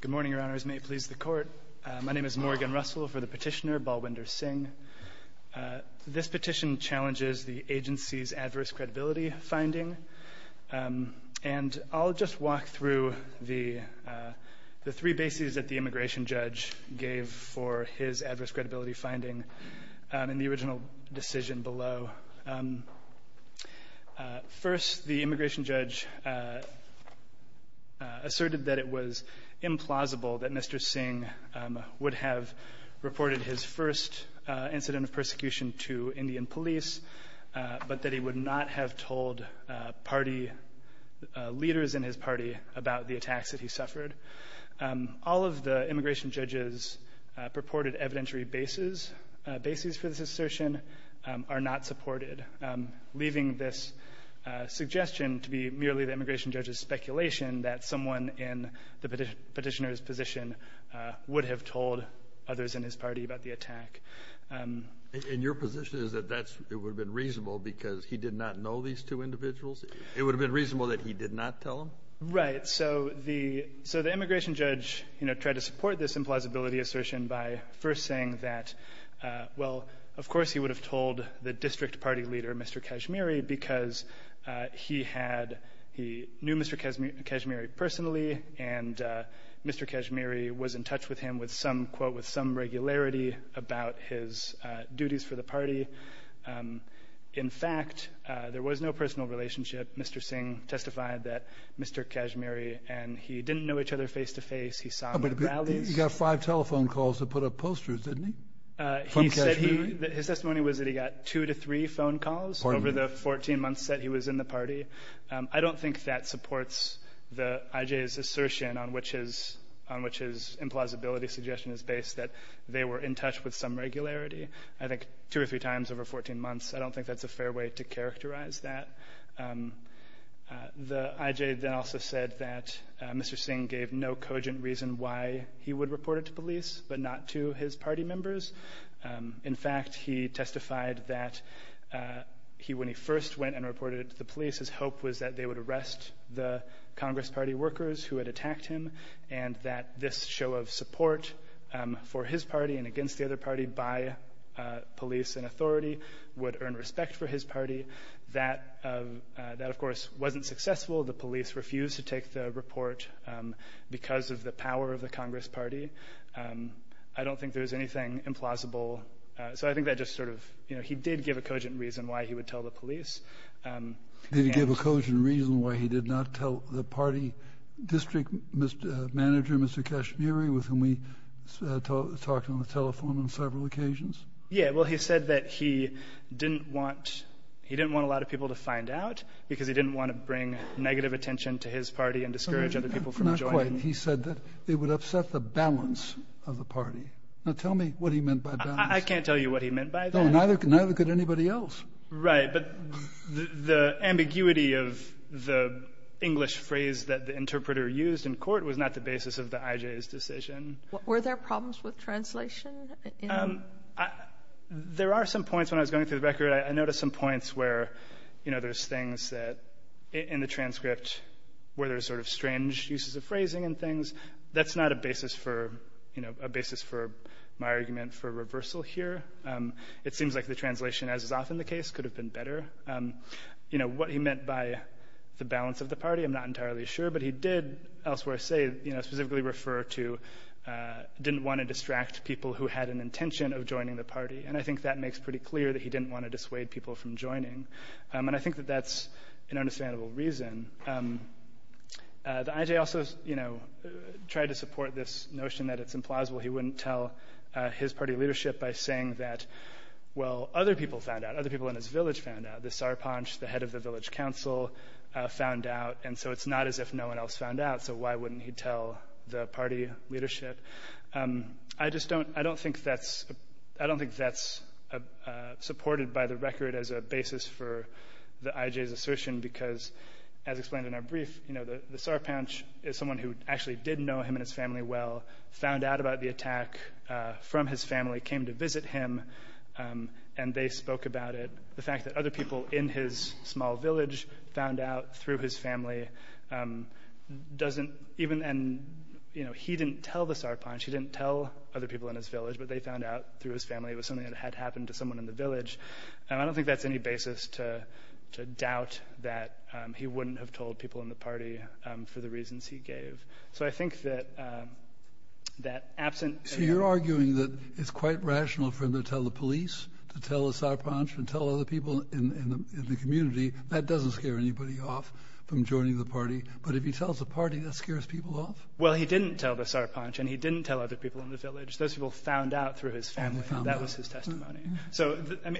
Good morning, Your Honors. May it please the Court. My name is Morgan Russell. For the petitioner, Balwinder Singh. This petition challenges the agency's adverse credibility finding. And I'll just walk through the three bases that the immigration judge gave for his adverse credibility finding in the original decision below. First, the immigration judge asserted that it was implausible that Mr. Singh would have reported his first incident of persecution to Indian police, but that he would not have told party leaders in his party about the attacks that he suffered. All of the immigration judge's purported evidentiary bases for this assertion are not supported, leaving this suggestion to be merely the immigration judge's speculation that someone in the petitioner's position would have told others in his party about the attack. And your position is that it would have been reasonable because he did not know these two individuals? It would have been reasonable that he did not tell them? Right. So the immigration judge tried to support this implausibility assertion by first saying that, well, of course he would have told the district party leader, Mr. Kashmiri, because he knew Mr. Kashmiri personally, and Mr. Kashmiri was in touch with him with some quote with some regularity about his duties for the party. In fact, there was no personal relationship. Mr. Singh testified that Mr. Kashmiri and he didn't know each other face to face. He saw him at rallies. He got five telephone calls to put up posters, didn't he, from Kashmiri? His testimony was that he got two to three phone calls over the 14 months that he was in the party. I don't think that supports the IJ's assertion on which his implausibility suggestion is based, that they were in touch with some regularity. I think two or three times over 14 months. I don't think that's a fair way to characterize that. The IJ then also said that Mr. Singh gave no cogent reason why he would report it to police, but not to his party members. In fact, he testified that when he first went and reported it to the police, his hope was that they would arrest the Congress party workers who had attacked him, and that this show of support for his party and against the other party by police and authority would earn respect for his party. That, of course, wasn't successful. The police refused to take the report because of the power of the Congress party. I don't think there's anything implausible. So I think that just sort of, you know, he did give a cogent reason why he would tell the police. Did he give a cogent reason why he did not tell the party district manager, Mr. Kashmiri, with whom we talked on the telephone on several occasions? Yeah. Well, he said that he didn't want a lot of people to find out because he didn't want to bring negative attention to his party and discourage other people from joining. Not quite. He said that it would upset the balance of the party. Now, tell me what he meant by balance. I can't tell you what he meant by that. No, neither could anybody else. Right. But the ambiguity of the English phrase that the interpreter used in court was not the basis of the IJ's decision. Were there problems with translation? There are some points when I was going through the record. I noticed some points where, you know, there's things that in the transcript where there's sort of strange uses of phrasing and things. That's not a basis for, you know, a basis for my argument for reversal here. It seems like the translation, as is often the case, could have been better. You know, what he meant by the balance of the party, I'm not entirely sure. But he did elsewhere say, you know, specifically refer to didn't want to distract people who had an intention of joining the party. And I think that makes pretty clear that he didn't want to dissuade people from joining. And I think that that's an understandable reason. The IJ also, you know, tried to support this notion that it's implausible. He wouldn't tell his party leadership by saying that, well, other people found out. Other people in his village found out. The Sarpanch, the head of the village council, found out. And so it's not as if no one else found out. So why wouldn't he tell the party leadership? I just don't think that's supported by the record as a basis for the IJ's assertion because, as explained in our brief, you know, someone who actually did know him and his family well found out about the attack from his family, came to visit him, and they spoke about it. The fact that other people in his small village found out through his family doesn't even – and, you know, he didn't tell the Sarpanch. He didn't tell other people in his village, but they found out through his family. It was something that had happened to someone in the village. And I don't think that's any basis to doubt that he wouldn't have told people in the party for the reasons he gave. So I think that absent – So you're arguing that it's quite rational for him to tell the police, to tell the Sarpanch, and tell other people in the community. That doesn't scare anybody off from joining the party. But if he tells the party, that scares people off? Well, he didn't tell the Sarpanch, and he didn't tell other people in the village. Those people found out through his family. That was his testimony.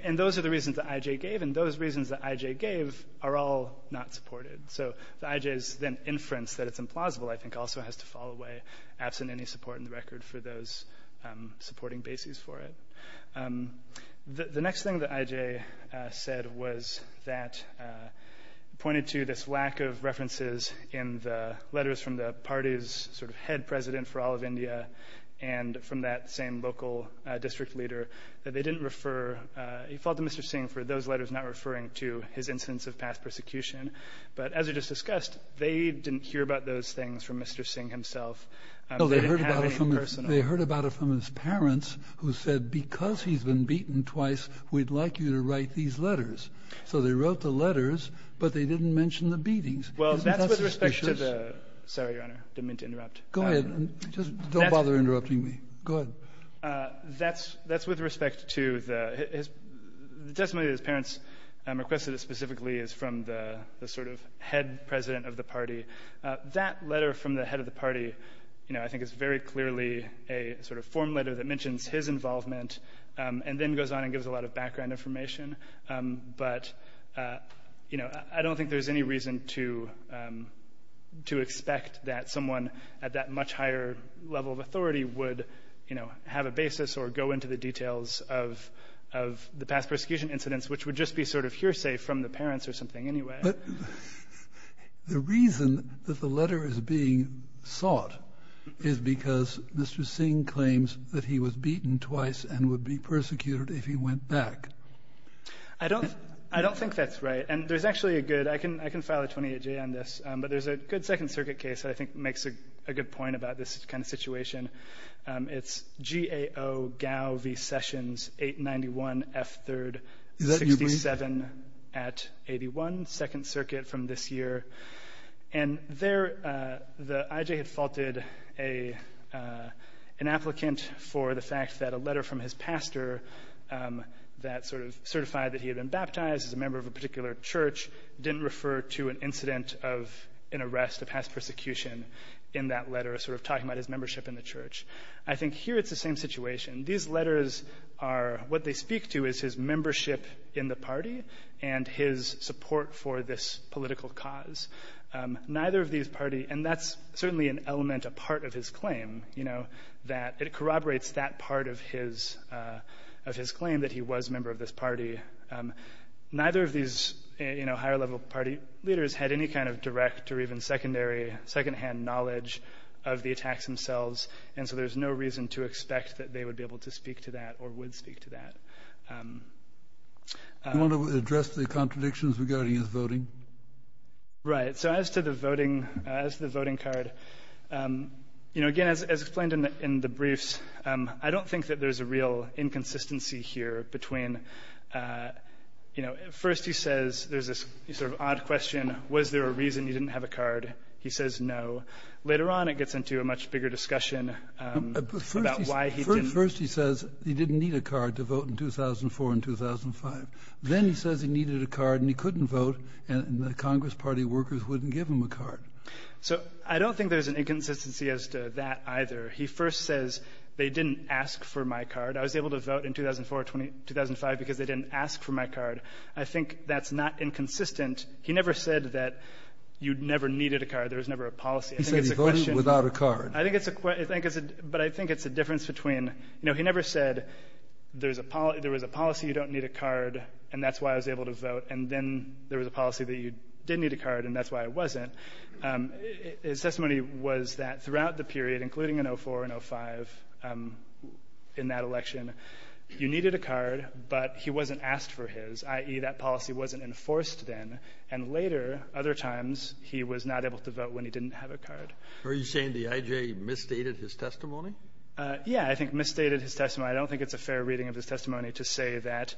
And those are the reasons that I.J. gave, and those reasons that I.J. gave are all not supported. So the I.J.'s then inference that it's implausible, I think, also has to fall away, absent any support in the record for those supporting bases for it. The next thing that I.J. said was that – pointed to this lack of references in the letters from the party's sort of head president for all of India and from that same local district leader, that they didn't refer – he filed to Mr. Singh for those letters not referring to his instance of past persecution. But as we just discussed, they didn't hear about those things from Mr. Singh himself. They didn't have any personal – No, they heard about it from his parents, who said because he's been beaten twice, we'd like you to write these letters. So they wrote the letters, but they didn't mention the beatings. Isn't that suspicious? Well, that's with respect to the – sorry, Your Honor. Didn't mean to interrupt. Go ahead. Just don't bother interrupting me. Go ahead. That's with respect to the – the testimony that his parents requested specifically is from the sort of head president of the party. That letter from the head of the party, you know, I think is very clearly a sort of form letter that mentions his involvement and then goes on and gives a lot of background information. But, you know, I don't think there's any reason to – to expect that someone at that much higher level of authority would, you know, have a basis or go into the details of – of the past persecution incidents, which would just be sort of hearsay from the parents or something anyway. But the reason that the letter is being sought is because Mr. Singh claims that he was beaten twice and would be persecuted if he went back. I don't – I don't think that's right. And there's actually a good – I can – I can file a 28-J on this, but there's a good Second Circuit case that I think makes a good point about this kind of situation. It's GAO-GAO v. Sessions, 891 F. 3rd, 67 at 81, Second Circuit from this year. And there the – I.J. had faulted a – an applicant for the fact that a letter from his pastor that sort of certified that he had been baptized as a member of a particular church didn't refer to an incident of an arrest, a past persecution in that letter, sort of talking about his membership in the church. I think here it's the same situation. These letters are – what they speak to is his membership in the party and his support for this political cause. Neither of these party – and that's certainly an element, a part of his claim, you know, that it corroborates that part of his – of his claim that he was a member of this party. Neither of these, you know, higher-level party leaders had any kind of direct or even secondary, secondhand knowledge of the attacks themselves, and so there's no reason to expect that they would be able to speak to that or would speak to that. Do you want to address the contradictions regarding his voting? Right. So as to the voting – as to the voting card, you know, again, as explained in the briefs, I don't think that there's a real inconsistency here between, you know, at first he says – there's this sort of odd question, was there a reason you didn't have a card? He says no. Later on it gets into a much bigger discussion about why he didn't. First he says he didn't need a card to vote in 2004 and 2005. Then he says he needed a card and he couldn't vote, and the Congress Party workers wouldn't give him a card. So I don't think there's an inconsistency as to that either. He first says they didn't ask for my card. I was able to vote in 2004, 2005 because they didn't ask for my card. I think that's not inconsistent. He never said that you never needed a card. There was never a policy. He said he voted without a card. I think it's a – but I think it's a difference between – you know, he never said there was a policy you don't need a card, and that's why I was able to vote, and then there was a policy that you did need a card and that's why I wasn't. His testimony was that throughout the period, including in 2004 and 2005, in that election, you needed a card, but he wasn't asked for his, i.e., that policy wasn't enforced then. And later, other times, he was not able to vote when he didn't have a card. Are you saying the I.J. misstated his testimony? Yeah, I think misstated his testimony. I don't think it's a fair reading of his testimony to say that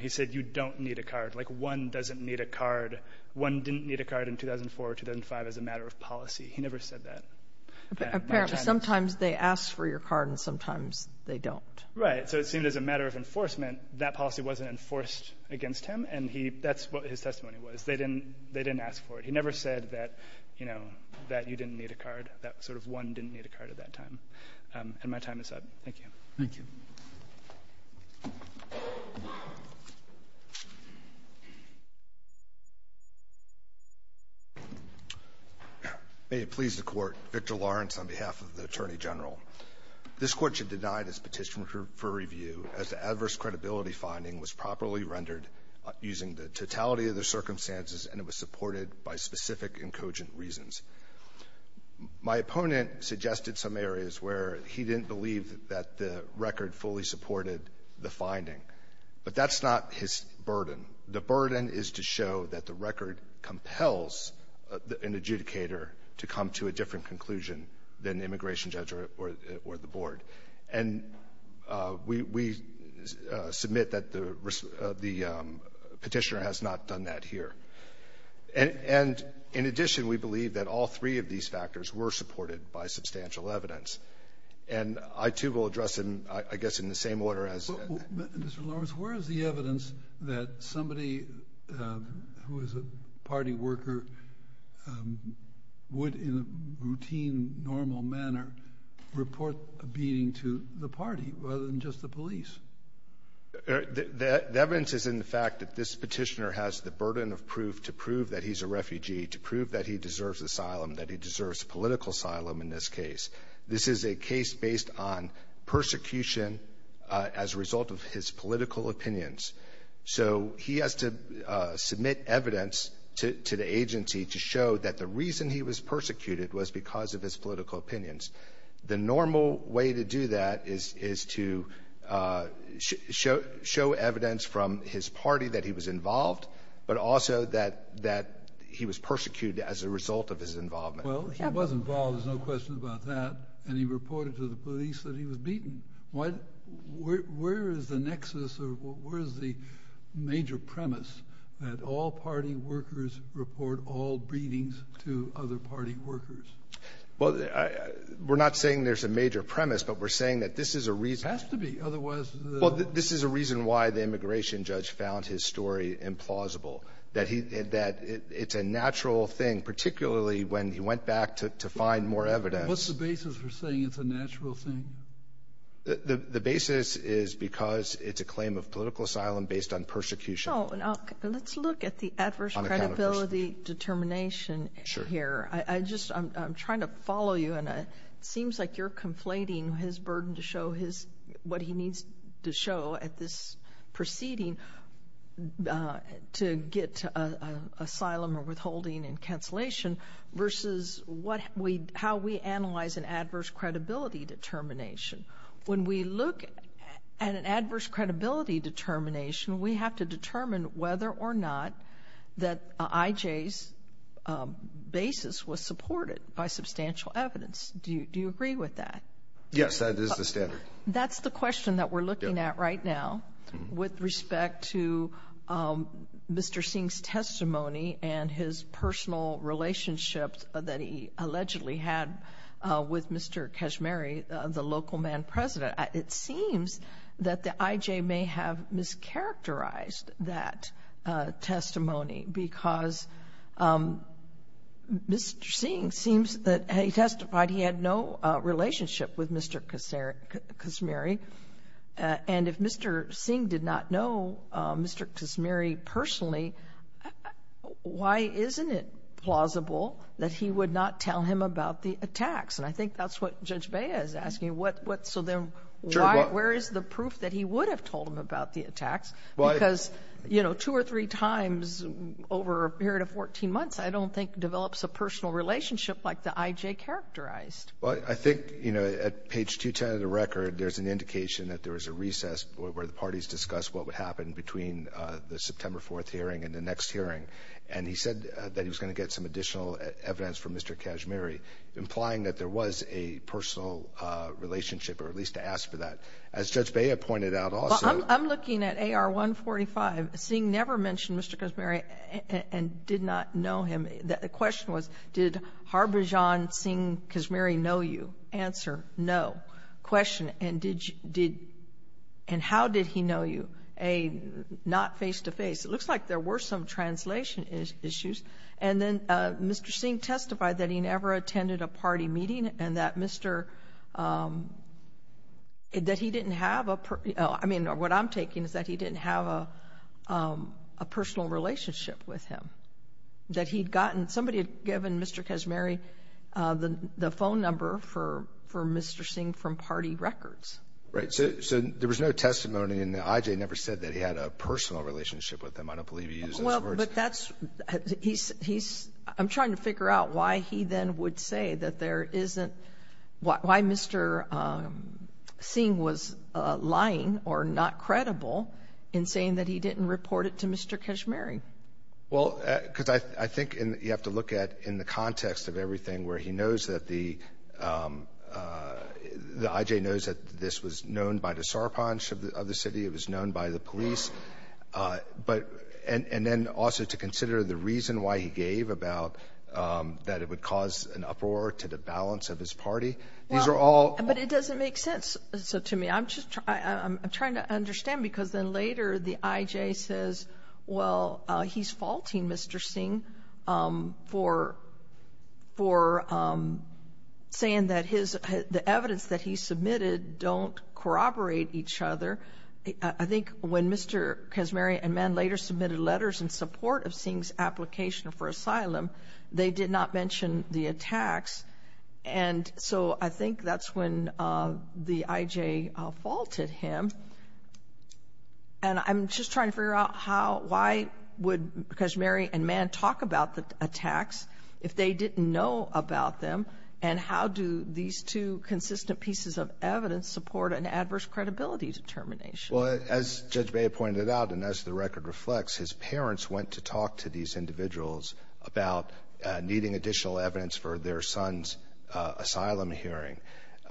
he said you don't need a card, like one doesn't need a card. One didn't need a card in 2004 or 2005 as a matter of policy. He never said that. Apparently, sometimes they ask for your card and sometimes they don't. Right. So it seemed as a matter of enforcement, that policy wasn't enforced against him, and he – that's what his testimony was. They didn't ask for it. He never said that, you know, that you didn't need a card. That sort of one didn't need a card at that time. And my time is up. Thank you. Thank you. May it please the Court. Victor Lawrence on behalf of the Attorney General. This Court should deny this petition for review as the adverse credibility finding was properly rendered using the totality of the circumstances, and it was supported by specific and cogent reasons. My opponent suggested some areas where he didn't believe that the record fully supported the finding. But that's not his burden. The burden is to show that the record compels an adjudicator to come to a different conclusion than the immigration judge or the board. And we submit that the Petitioner has not done that here. And in addition, we believe that all three of these factors were supported by substantial evidence. And I, too, will address them, I guess, in the same order as — Mr. Lawrence, where is the evidence that somebody who is a party worker would, in a routine, normal manner, report a beating to the party rather than just the police? The evidence is in the fact that this Petitioner has the burden of proof to prove that he's a refugee, to prove that he deserves asylum, that he deserves political asylum in this case. This is a case based on persecution as a result of his political opinions. So he has to submit evidence to the agency to show that the reason he was persecuted was because of his political opinions. The normal way to do that is to show evidence from his party that he was involved, but also that he was persecuted as a result of his involvement. Well, he was involved. There's no question about that. And he reported to the police that he was beaten. Where is the nexus or where is the major premise that all party workers report all beatings to other party workers? Well, we're not saying there's a major premise, but we're saying that this is a reason. It has to be. Otherwise, the — Well, this is a reason why the immigration judge found his story implausible, that he — that it's a natural thing, particularly when he went back to find more evidence. What's the basis for saying it's a natural thing? The basis is because it's a claim of political asylum based on persecution. No. Let's look at the adverse credibility determination here. Sure. I just — I'm trying to follow you, and it seems like you're conflating his burden to show his — what he needs to show at this proceeding to get asylum or withholding and cancellation versus what we — how we analyze an adverse credibility determination. When we look at an adverse credibility determination, we have to determine whether or not that I.J.'s basis was supported by substantial evidence. Do you agree with that? Yes, that is the standard. That's the question that we're looking at right now with respect to Mr. Singh's testimony and his personal relationships that he allegedly had with Mr. Kashmiri, the local man president. It seems that the I.J. may have mischaracterized that testimony because Mr. Singh seems that — he testified he had no relationship with Mr. Kashmiri, and if Mr. Singh did not know Mr. Kashmiri personally, why isn't it plausible that he would not tell him about the attacks? And I think that's what Judge Bea is asking. What — so then, where is the proof that he would have told him about the attacks? Because, you know, two or three times over a period of 14 months, I don't think, develops a personal relationship like the I.J. characterized. Well, I think, you know, at page 210 of the record, there's an indication that there was a recess where the parties discussed what would happen between the September 4th hearing and the next hearing, and he said that he was going to get some additional evidence from Mr. Kashmiri, implying that there was a personal relationship, or at least to ask for that. As Judge Bea pointed out also — Well, I'm looking at AR-145. Singh never mentioned Mr. Kashmiri and did not know him. The question was, did Harbhajan Singh Kashmiri know you? Answer, no. Question, and did — and how did he know you? A, not face-to-face. It looks like there were some translation issues. And then Mr. Singh testified that he never attended a party meeting and that Mr. — that he didn't have a — I mean, what I'm taking is that he didn't have a personal relationship with him, that he'd gotten — somebody had given Mr. Kashmiri the phone number for Mr. Singh from party records. Right. So there was no testimony, and the IJ never said that he had a personal relationship with him. I don't believe he used those words. Well, but that's — he's — I'm trying to figure out why he then would say that there isn't — why Mr. Singh was lying or not credible in saying that he didn't report it to Mr. Kashmiri. Well, because I think you have to look at, in the context of everything, where he knows that the — the IJ knows that this was known by the Sarpanch of the city, it was known by the police, but — and then also to consider the reason why he gave about that it would cause an uproar to the balance of his party. These are all — Well, but it doesn't make sense to me. I'm just — I'm trying to understand, because then later the IJ says, well, he's faulting Mr. Singh for — for saying that his — the evidence that he submitted don't corroborate each other. I think when Mr. Kashmiri and Mann later submitted letters in support of Singh's application for asylum, they did not mention the attacks. And so I think that's when the IJ faulted him. And I'm just trying to figure out how — why would Kashmiri and Mann talk about the attacks if they didn't know about them? And how do these two consistent pieces of evidence support an adverse credibility determination? Well, as Judge Bea pointed out, and as the record reflects, his parents went to talk to these individuals about needing additional evidence for their son's asylum hearing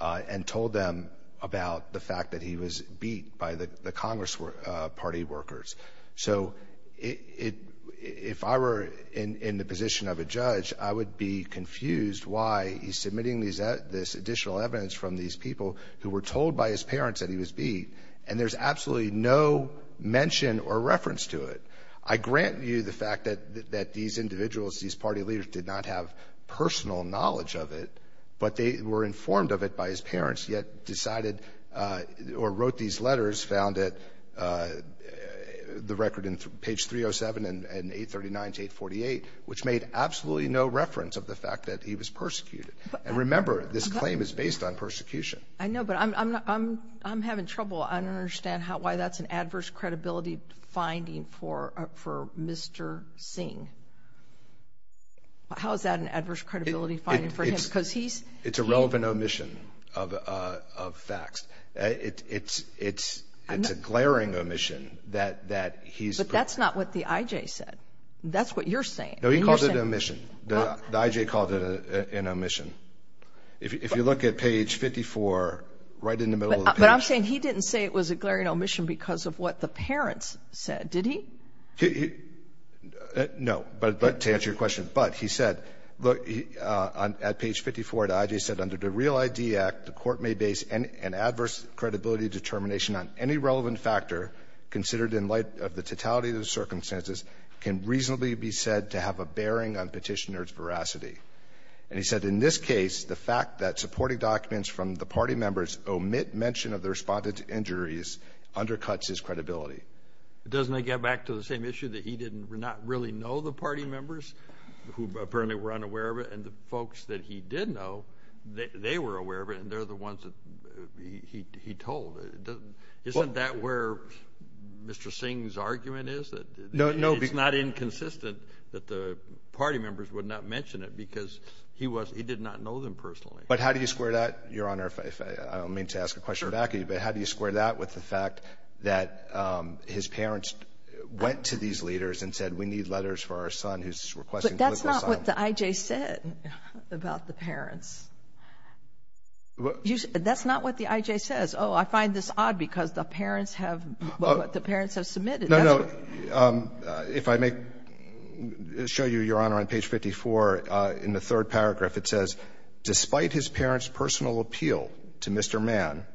and told them about the fact that he was beat by the Congress party workers. So it — if I were in the position of a judge, I would be confused why he's submitting this additional evidence from these people who were told by his parents that he was beat, and there's absolutely no mention or reference to it. I grant you the fact that these individuals, these party leaders, did not have personal knowledge of it, but they were informed of it by his parents, yet decided or wrote these letters, found it, the record in page 307 and 839 to 848, which made absolutely no reference of the fact that he was persecuted. And remember, this claim is based on persecution. I know, but I'm having trouble. I don't understand why that's an adverse credibility finding for Mr. Singh. How is that an adverse credibility finding for him? Because he's — It's a relevant omission of facts. It's a glaring omission that he's — But that's not what the I.J. said. That's what you're saying. No, he called it an omission. The I.J. called it an omission. If you look at page 54, right in the middle of the page — But I'm saying he didn't say it was a glaring omission because of what the parents said, did he? No. But to answer your question, but he said, at page 54, the I.J. said, under the Real ID Act, the Court may base an adverse credibility determination on any relevant factor considered in light of the totality of the circumstances can reasonably be said to have a bearing on Petitioner's veracity. And he said, in this case, the fact that supporting documents from the party members omit mention of the respondents' injuries undercuts his credibility. Doesn't that get back to the same issue that he did not really know the party members who apparently were unaware of it, and the folks that he did know, they were aware of it, and they're the ones that he told? Isn't that where Mr. Singh's argument is? It's not inconsistent that the party members would not mention it because he did not know them personally. But how do you square that, Your Honor, if I don't mean to ask a question back at you, but how do you square that with the fact that his parents went to these leaders and said, we need letters for our son who's requesting political asylum? But that's not what the I.J. said about the parents. That's not what the I.J. says. Oh, I find this odd because the parents have what the parents have submitted. No, no. If I may show you, Your Honor, on page 54, in the third paragraph, it says, despite his parents' personal appeal to Mr. Mann,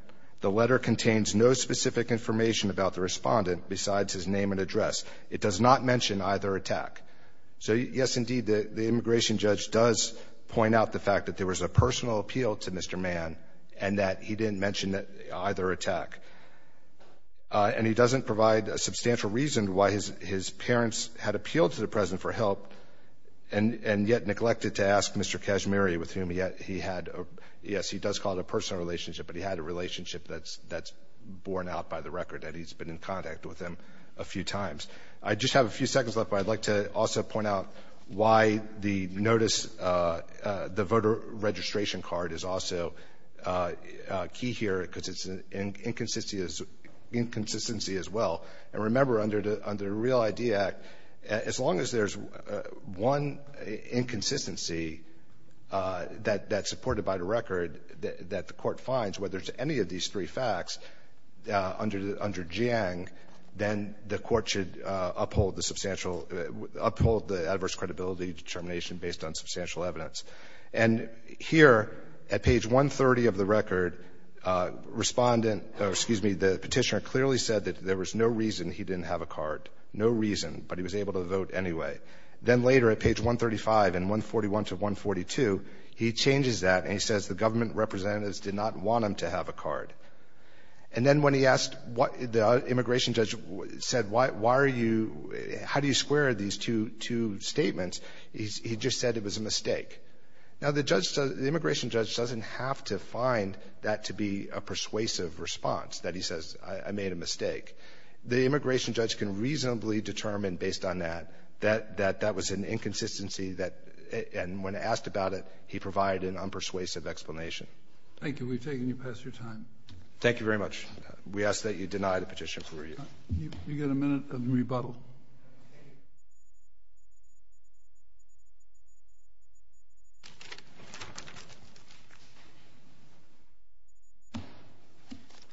the letter contains no specific information about the Respondent besides his name and address. It does not mention either attack. So, yes, indeed, the immigration judge does point out the fact that there was a personal appeal to Mr. Mann and that he didn't mention either attack. And he doesn't provide a substantial reason why his parents had appealed to the President for help and yet neglected to ask Mr. Kashmiri, with whom he had, yes, he does call it a personal relationship, but he had a relationship that's borne out by the record that he's been in contact with him a few times. I just have a few seconds left, but I'd like to also point out why the notice, the voter registration card, is also key here because it's an inconsistency as well. And remember, under the Real ID Act, as long as there's one inconsistency that's supported by the record that the Court finds, whether it's any of these three facts under Jiang, then the Court should uphold the substantial – uphold the adverse credibility determination based on substantial evidence. And here, at page 130 of the record, Respondent – or, excuse me, the Petitioner clearly said that there was no reason he didn't have a card. No reason, but he was able to vote anyway. Then later, at page 135 and 141 to 142, he changes that and he says the government representatives did not want him to have a card. And then when he asked what – the immigration judge said, why are you – how do you square these two statements, he just said it was a mistake. Now, the judge – the immigration judge doesn't have to find that to be a persuasive response, that he says I made a mistake. The immigration judge can reasonably determine, based on that, that that was an inconsistency that – and when asked about it, he provided an unpersuasive explanation. Thank you. We've taken you past your time. Thank you very much. We ask that you deny the petition for review. You get a minute of rebuttal. Thank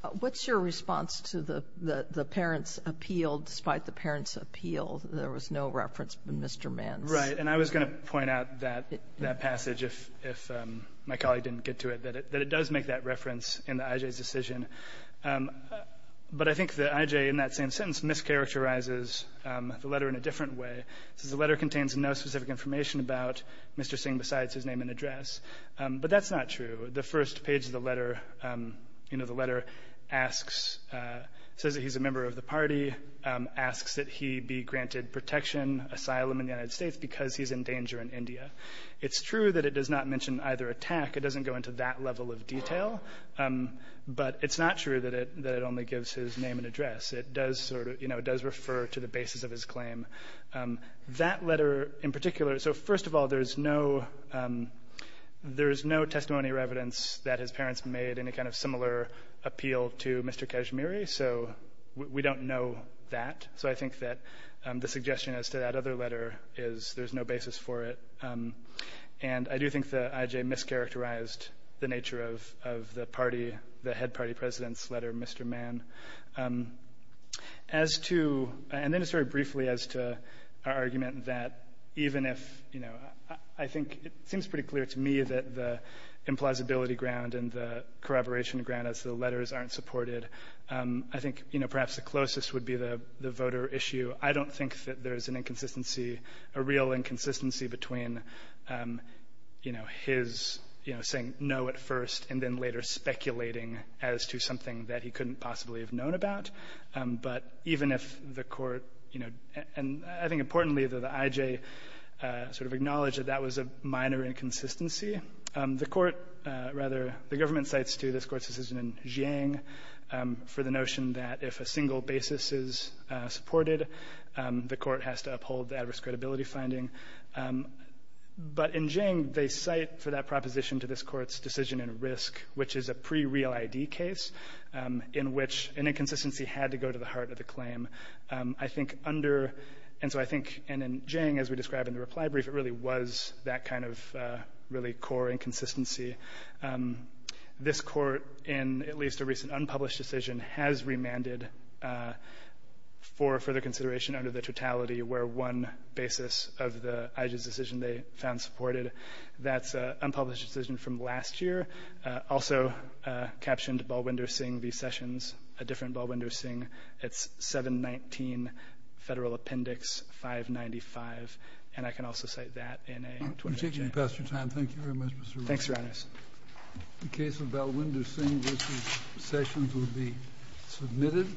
you. What's your response to the parents' appeal, despite the parents' appeal, there was no reference to Mr. Mann's? Right. And I was going to point out that passage, if my colleague didn't get to it, that it does make that reference in the IJ's decision. But I think the IJ, in that same sentence, mischaracterizes the letter in a different way. It says the letter contains no specific information about Mr. Singh besides his name and address. But that's not true. The first page of the letter, you know, the letter asks – says that he's a member of the party, asks that he be granted protection, asylum in the United States, because he's in danger in India. It's true that it does not mention either attack. It doesn't go into that level of detail. But it's not true that it only gives his name and address. It does sort of, you know, it does refer to the basis of his claim. That letter in particular – so first of all, there's no – there's no testimony or evidence that his parents made any kind of similar appeal to Mr. Kashmiri. So we don't know that. So I think that the suggestion as to that other letter is there's no basis for it. And I do think that I.J. mischaracterized the nature of the party, the head party president's letter, Mr. Mann. As to – and then just very briefly as to our argument that even if – you know, I think it seems pretty clear to me that the implausibility ground and the corroboration ground as the letters aren't supported, I think, you know, perhaps the closest would be the voter issue. I don't think that there's an inconsistency – a real inconsistency between, you know, his, you know, saying no at first and then later speculating as to something that he couldn't possibly have known about. But even if the Court, you know – and I think importantly that I.J. sort of acknowledged that that was a minor inconsistency. The Court rather – the government cites to this Court's decision in Jiang for the uphold the adverse credibility finding. But in Jiang, they cite for that proposition to this Court's decision in Risk, which is a pre-real ID case in which an inconsistency had to go to the heart of the claim. I think under – and so I think – and in Jiang, as we described in the reply brief, it really was that kind of really core inconsistency. This Court in at least a recent unpublished decision has remanded for further consideration under the totality where one basis of the I.J.'s decision they found supported. That's an unpublished decision from last year. Also captioned, Balwinder Singh v. Sessions, a different Balwinder Singh. It's 719 Federal Appendix 595. And I can also cite that in a – I'm taking the best of your time. Thank you very much, Mr. Ramos. Thanks, Your Honor. The case of Balwinder Singh v. Sessions will be submitted.